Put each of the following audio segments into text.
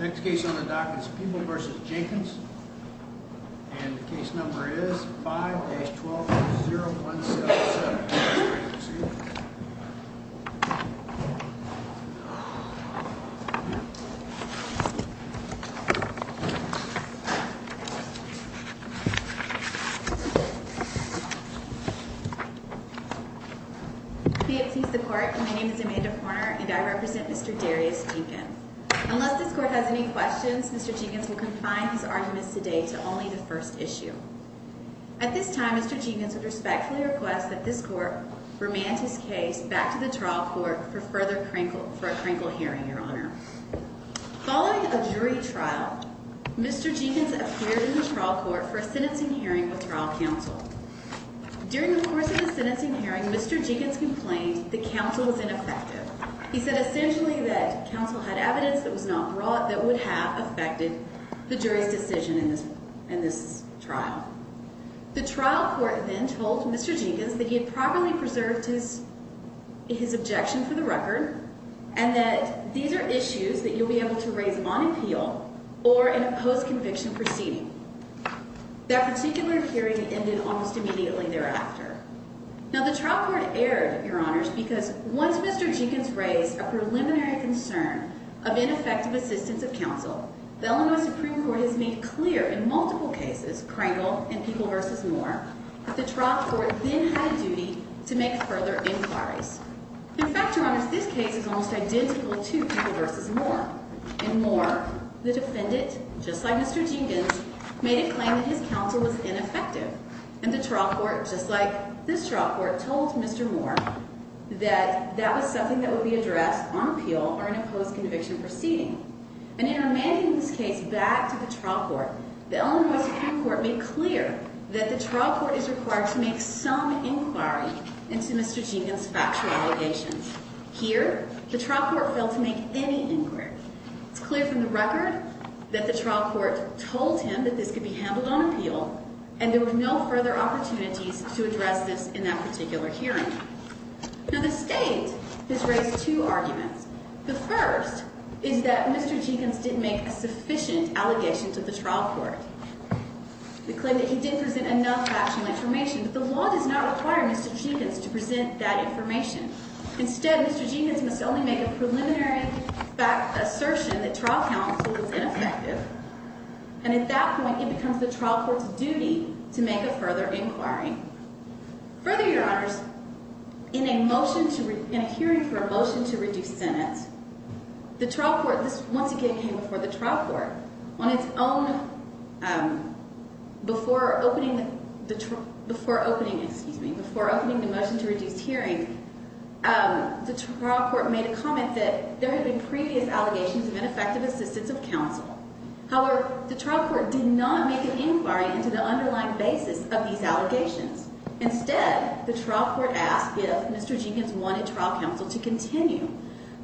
Next case on the docket is Peeble v. Jenkins, and the case number is 5-12-0177. The case is Peeble v. Jenkins. The case is Peeble v. Jenkins, and the case number is 5-12-0177. The trial court then told Mr. Jenkins that he had properly preserved his objection for the record, and that these are issues that you'll be able to raise on appeal or in a post-conviction proceeding. That particular hearing ended almost immediately thereafter. Now, the trial court erred, Your Honors, because once Mr. Jenkins raised a preliminary concern of ineffective assistance of counsel, the Illinois Supreme Court has made clear in multiple cases, Kringle and Peeble v. Moore, that the trial court then had a duty to make further inquiries. In fact, Your Honors, this case is almost identical to Peeble v. Moore. In Moore, the defendant, just like Mr. Jenkins, made a claim that his counsel was ineffective. And the trial court, just like this trial court, told Mr. Moore that that was something that would be addressed on appeal or in a post-conviction proceeding. And in amending this case back to the trial court, the Illinois Supreme Court made clear that the trial court is required to make some inquiry into Mr. Jenkins' factual allegations. Here, the trial court failed to make any inquiry. It's clear from the record that the trial court told him that this could be handled on appeal, and there were no further opportunities to address this in that particular hearing. Now, the State has raised two arguments. The first is that Mr. Jenkins didn't make a sufficient allegation to the trial court. The claim that he didn't present enough factual information, but the law does not require Mr. Jenkins to present that information. Instead, Mr. Jenkins must only make a preliminary assertion that trial counsel was ineffective, and at that point, it becomes the trial court's duty to make a further inquiry. Further, Your Honors, in a hearing for a motion to reduce sentence, the trial court — this, once again, came before the trial court. On its own, before opening the motion to reduce hearing, the trial court made a comment that there had been previous allegations of ineffective assistance of counsel. However, the trial court did not make an inquiry into the underlying basis of these allegations. Instead, the trial court asked if Mr. Jenkins wanted trial counsel to continue.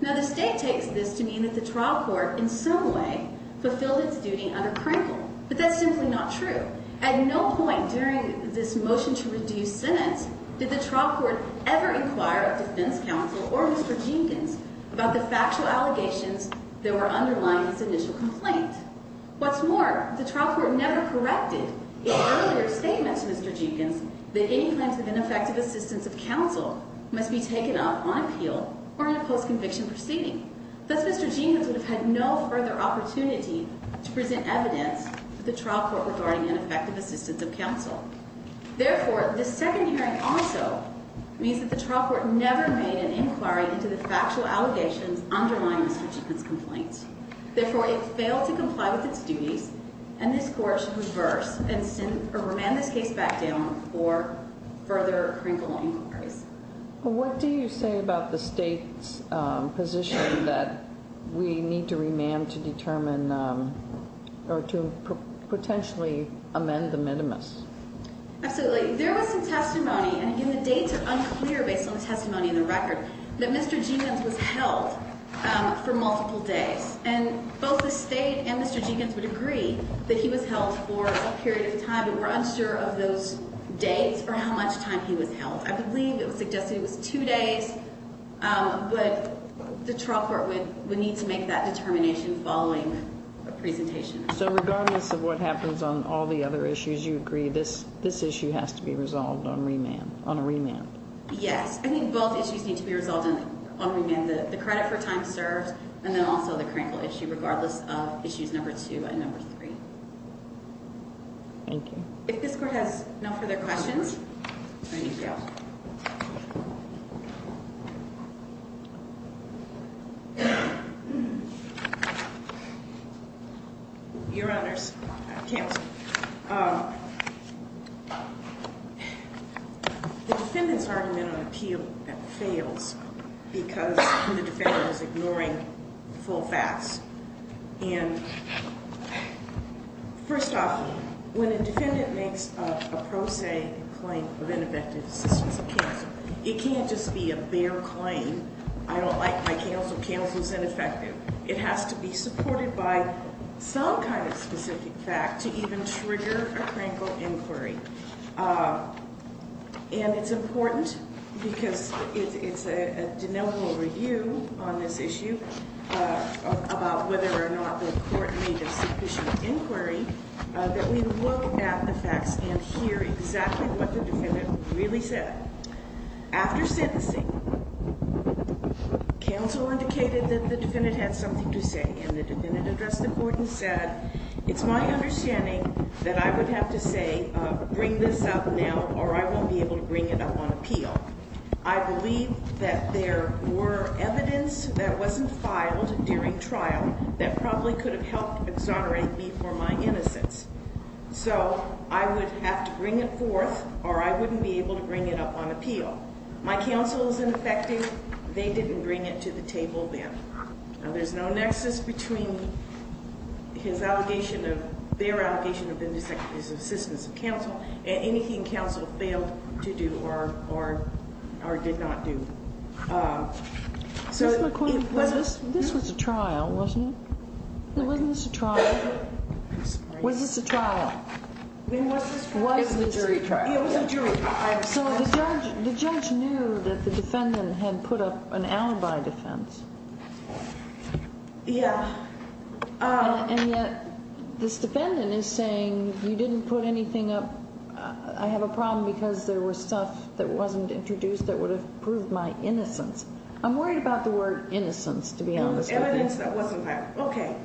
Now, the State takes this to mean that the trial court, in some way, fulfilled its duty under Krinkle, but that's simply not true. At no point during this motion to reduce sentence did the trial court ever inquire of defense counsel or Mr. Jenkins about the factual allegations that were underlying this initial complaint. What's more, the trial court never corrected its earlier statement to Mr. Jenkins that any claims of ineffective assistance of counsel must be taken up on appeal or in a post-conviction proceeding. Thus, Mr. Jenkins would have had no further opportunity to present evidence to the trial court regarding ineffective assistance of counsel. Therefore, this second hearing also means that the trial court never made an inquiry into the factual allegations underlying Mr. Jenkins' complaints. Therefore, it failed to comply with its duties, and this Court should reverse and remand this case back down for further Krinkle inquiries. Well, what do you say about the State's position that we need to remand to determine or to potentially amend the minimus? Absolutely. There was some testimony, and the dates are unclear based on the testimony in the record, that Mr. Jenkins was held for multiple days. And both the State and Mr. Jenkins would agree that he was held for a period of time, but we're unsure of those dates or how much time he was held. I believe it was suggested it was two days, but the trial court would need to make that determination following a presentation. So regardless of what happens on all the other issues, you agree this issue has to be resolved on a remand? Yes. I mean, both issues need to be resolved on a remand. The credit for time served, and then also the Krinkle issue, regardless of issues number two and number three. Thank you. If this Court has no further questions. Thank you. Your Honors, the defendant's argument on appeal fails because the defendant is ignoring full facts. And first off, when a defendant makes a pro se claim for ineffective assistance of counsel, it can't just be a bare claim. I don't like my counsel. Counsel's ineffective. It has to be supported by some kind of specific fact to even trigger a Krinkle inquiry. And it's important because it's a de novo review on this issue about whether or not the court made a sufficient inquiry that we look at the facts and hear exactly what the defendant really said. After sentencing, counsel indicated that the defendant had something to say, and the defendant addressed the court and said, it's my understanding that I would have to say, bring this up now or I won't be able to bring it up on appeal. I believe that there were evidence that wasn't filed during trial that probably could have helped exonerate me for my innocence. So I would have to bring it forth or I wouldn't be able to bring it up on appeal. My counsel is ineffective. They didn't bring it to the table then. And there's no nexus between his allegation of their allegation of his assistance of counsel and anything counsel failed to do or did not do. This was a trial, wasn't it? It wasn't a trial. Was this a trial? It was a jury trial. So the judge knew that the defendant had put up an alibi defense. Yeah. And yet this defendant is saying you didn't put anything up. I have a problem because there was stuff that wasn't introduced that would have proved my innocence. I'm worried about the word innocence, to be honest with you. Evidence that wasn't filed. Okay.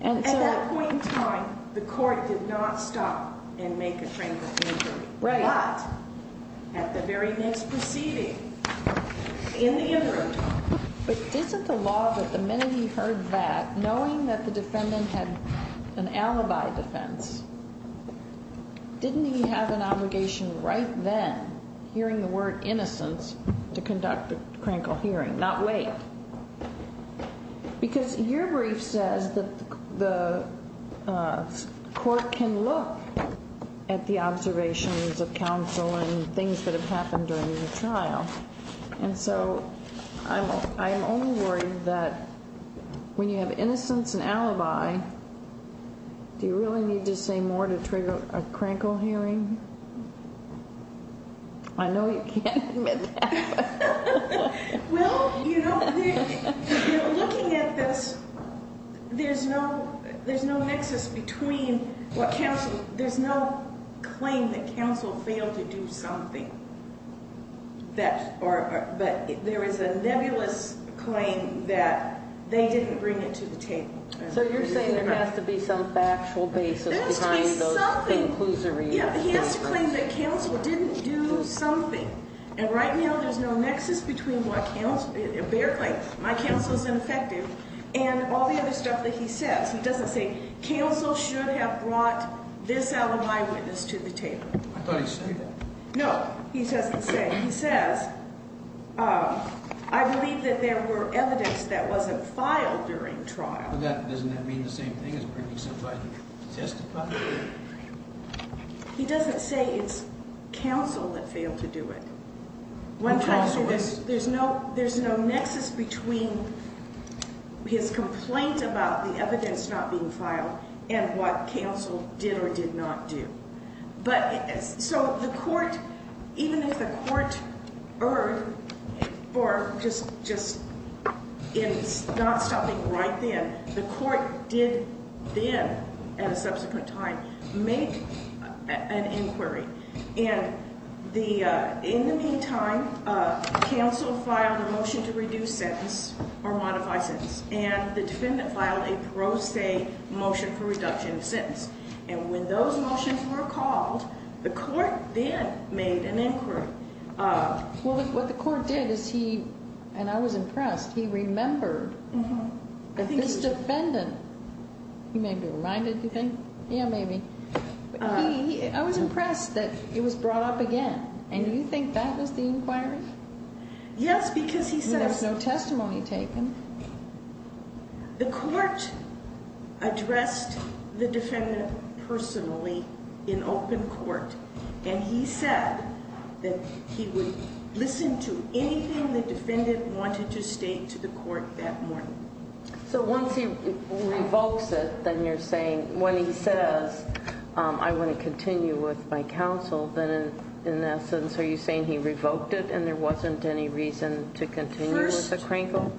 At that point in time, the court did not stop and make a tranquil hearing. Right. But at the very next proceeding, in the interim time. But isn't the law that the minute he heard that, knowing that the defendant had an alibi defense, didn't he have an obligation right then, hearing the word innocence, to conduct a tranquil hearing, not wait? Because your brief says that the court can look at the observations of counsel and things that have happened during the trial. And so I'm only worried that when you have innocence and alibi, do you really need to say more to trigger a tranquil hearing? I know you can't admit that. Well, you know, looking at this, there's no nexus between what counsel – there's no claim that counsel failed to do something. But there is a nebulous claim that they didn't bring it to the table. So you're saying there has to be some factual basis behind those conclusions. There has to be something. He has to claim that counsel didn't do something. And right now there's no nexus between what counsel – a bare claim, my counsel's ineffective, and all the other stuff that he says. He doesn't say, counsel should have brought this alibi witness to the table. I thought he said that. No, he doesn't say. He says, I believe that there were evidence that wasn't filed during the trial. But doesn't that mean the same thing as bringing somebody to testify? He doesn't say it's counsel that failed to do it. There's no nexus between his complaint about the evidence not being filed and what counsel did or did not do. So the court, even if the court erred or just is not stopping right then, the court did then, at a subsequent time, make an inquiry. And in the meantime, counsel filed a motion to reduce sentence or modify sentence. And the defendant filed a pro se motion for reduction of sentence. And when those motions were called, the court then made an inquiry. Well, what the court did is he – and I was impressed. He remembered that this defendant – he may be reminded, you think? Yeah, maybe. I was impressed that it was brought up again. And do you think that was the inquiry? Yes, because he says – And there's no testimony taken. The court addressed the defendant personally in open court. And he said that he would listen to anything the defendant wanted to state to the court that morning. So once he revokes it, then you're saying when he says, I want to continue with my counsel, then in essence are you saying he revoked it and there wasn't any reason to continue with the crinkle?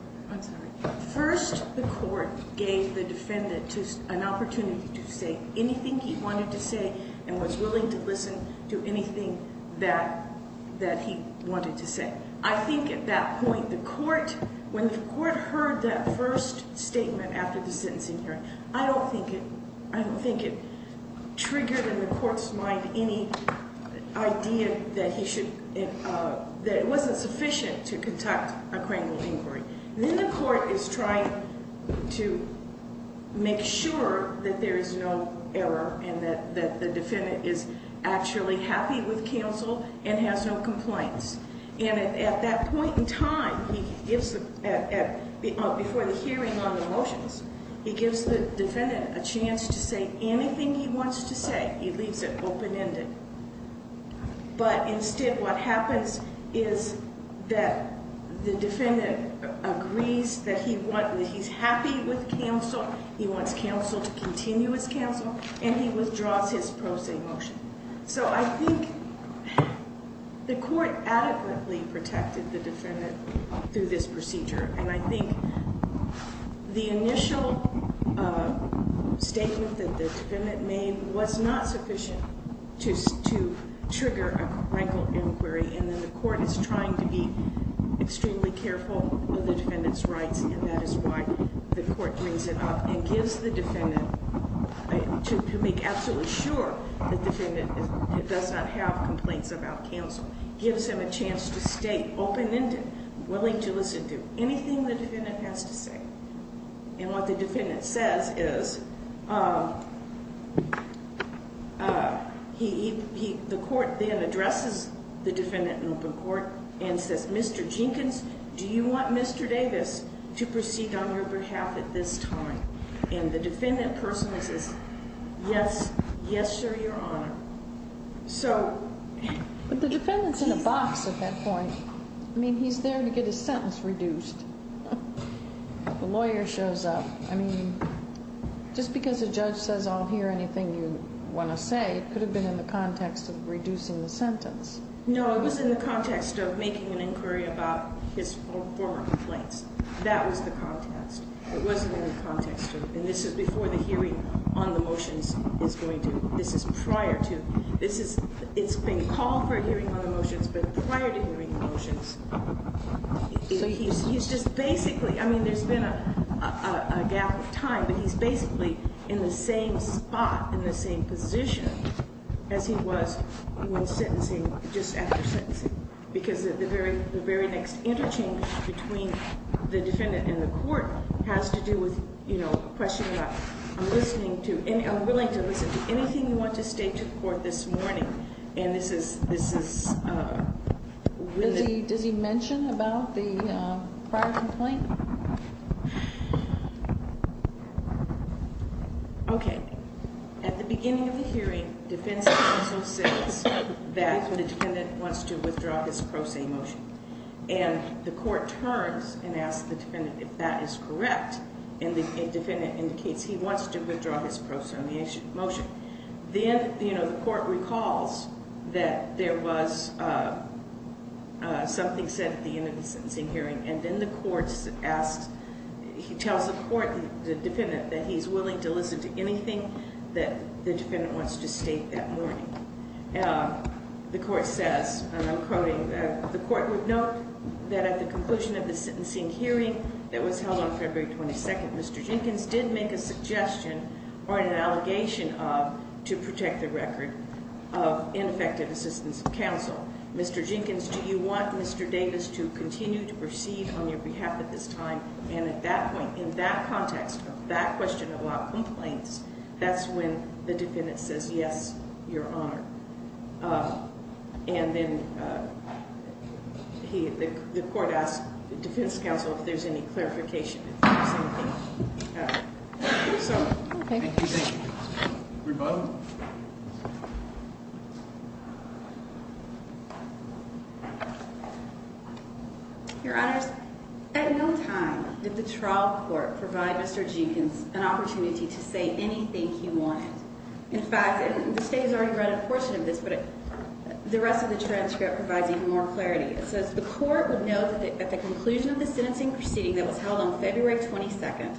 First, the court gave the defendant an opportunity to say anything he wanted to say and was willing to listen to anything that he wanted to say. I think at that point the court – when the court heard that first statement after the sentencing hearing, I don't think it – I don't think it triggered in the court's mind any idea that he should – that it wasn't sufficient to conduct a crinkled inquiry. Then the court is trying to make sure that there is no error and that the defendant is actually happy with counsel and has no complaints. And at that point in time, before the hearing on the motions, he gives the defendant a chance to say anything he wants to say. He leaves it open-ended. But instead what happens is that the defendant agrees that he wants – that he's happy with counsel, he wants counsel to continue his counsel, and he withdraws his pro se motion. So I think the court adequately protected the defendant through this procedure. And I think the initial statement that the defendant made was not sufficient to trigger a crinkled inquiry. And then the court is trying to be extremely careful of the defendant's rights, and that is why the court brings it up and gives the defendant – to make absolutely sure that the defendant does not have complaints about counsel. Gives him a chance to stay open-ended, willing to listen to anything the defendant has to say. And what the defendant says is – the court then addresses the defendant in open court and says, Mr. Jenkins, do you want Mr. Davis to proceed on your behalf at this time? And the defendant person says, yes, yes, sir, Your Honor. So – But the defendant's in a box at that point. I mean, he's there to get his sentence reduced. The lawyer shows up. I mean, just because a judge says I'll hear anything you want to say, it could have been in the context of reducing the sentence. No, it was in the context of making an inquiry about his former complaints. That was the context. It wasn't in the context of – and this is before the hearing on the motions is going to – this is prior to – this is – it's been called for a hearing on the motions, but prior to hearing the motions, he's just basically – I mean, there's been a gap of time, but he's basically in the same spot, in the same position as he was when sentencing, just after sentencing. Because the very next interchange between the defendant and the court has to do with, you know, I'm willing to listen to anything you want to state to the court this morning. And this is – Does he mention about the prior complaint? Okay. At the beginning of the hearing, defense counsel says that the defendant wants to withdraw his pro se motion. And the court turns and asks the defendant if that is correct, and the defendant indicates he wants to withdraw his pro se motion. Then, you know, the court recalls that there was something said at the end of the sentencing hearing, and then the court asks – he tells the court, the defendant, that he's willing to listen to anything that the defendant wants to state that morning. The court says, and I'm quoting, that the court would note that at the conclusion of the sentencing hearing that was held on February 22nd, Mr. Jenkins did make a suggestion or an allegation of – to protect the record of ineffective assistance of counsel. Mr. Jenkins, do you want Mr. Davis to continue to proceed on your behalf at this time? And at that point, in that context of that question about complaints, that's when the defendant says, yes, Your Honor. And then the court asks the defense counsel if there's any clarification. Your Honors, at no time did the trial court provide Mr. Jenkins an opportunity to say anything he wanted. In fact, and the state has already read a portion of this, but the rest of the transcript provides even more clarity. It says the court would note that at the conclusion of the sentencing proceeding that was held on February 22nd,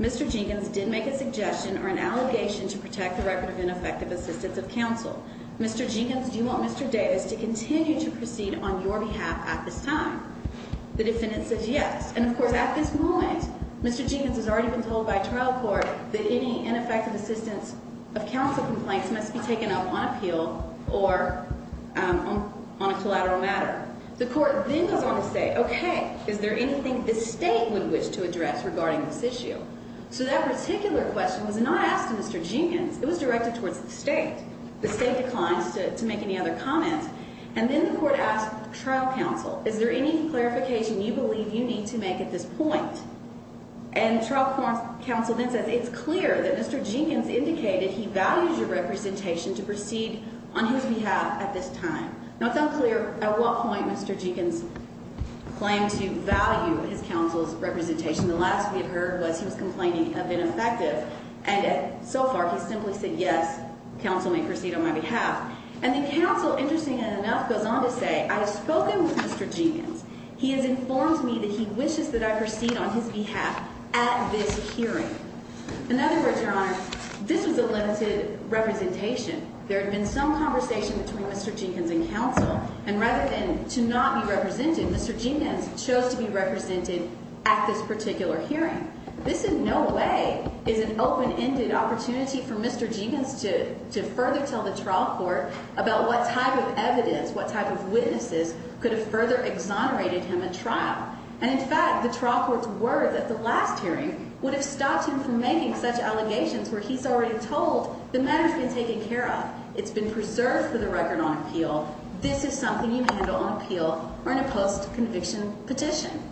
Mr. Jenkins did make a suggestion or an allegation to protect the record of ineffective assistance of counsel. Mr. Jenkins, do you want Mr. Davis to continue to proceed on your behalf at this time? The defendant says yes. And, of course, at this moment, Mr. Jenkins has already been told by trial court that any ineffective assistance of counsel complaints must be taken up on appeal or on a collateral matter. The court then goes on to say, okay, is there anything the state would wish to address regarding this issue? So that particular question was not asked to Mr. Jenkins. It was directed towards the state. The state declines to make any other comments. And then the court asks trial counsel, is there any clarification you believe you need to make at this point? And trial court counsel then says it's clear that Mr. Jenkins indicated he values your representation to proceed on his behalf at this time. Now, it's unclear at what point Mr. Jenkins claimed to value his counsel's representation. The last we had heard was he was complaining of ineffective. And so far he's simply said yes, counsel may proceed on my behalf. And the counsel, interestingly enough, goes on to say, I have spoken with Mr. Jenkins. He has informed me that he wishes that I proceed on his behalf at this hearing. In other words, Your Honor, this was a limited representation. There had been some conversation between Mr. Jenkins and counsel. And rather than to not be represented, Mr. Jenkins chose to be represented at this particular hearing. This in no way is an open-ended opportunity for Mr. Jenkins to further tell the trial court about what type of evidence, what type of witnesses could have further exonerated him at trial. And in fact, the trial court's word at the last hearing would have stopped him from making such allegations where he's already told the matter has been taken care of. It's been preserved for the record on appeal. This is something you handle on appeal or in a post-conviction petition.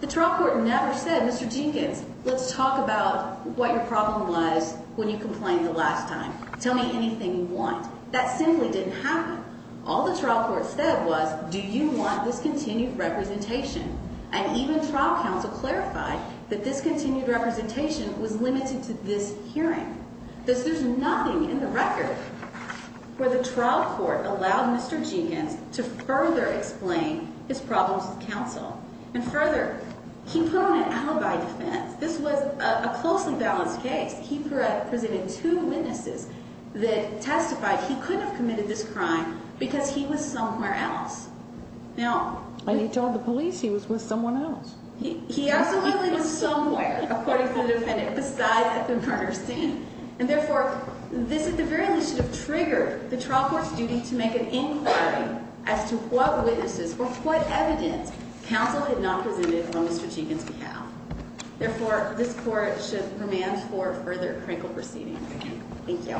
The trial court never said, Mr. Jenkins, let's talk about what your problem was when you complained the last time. Tell me anything you want. That simply didn't happen. All the trial court said was, do you want this continued representation? And even trial counsel clarified that this continued representation was limited to this hearing. There's nothing in the record where the trial court allowed Mr. Jenkins to further explain his problems with counsel. And further, he put on an alibi defense. This was a closely balanced case. He presented two witnesses that testified he couldn't have committed this crime because he was somewhere else. And he told the police he was with someone else. He absolutely was somewhere, according to the defendant, besides at the murder scene. And therefore, this at the very least should have triggered the trial court's duty to make an inquiry as to what witnesses or what evidence counsel had not presented on Mr. Jenkins' behalf. Therefore, this court should command for further crinkle proceedings. Thank you.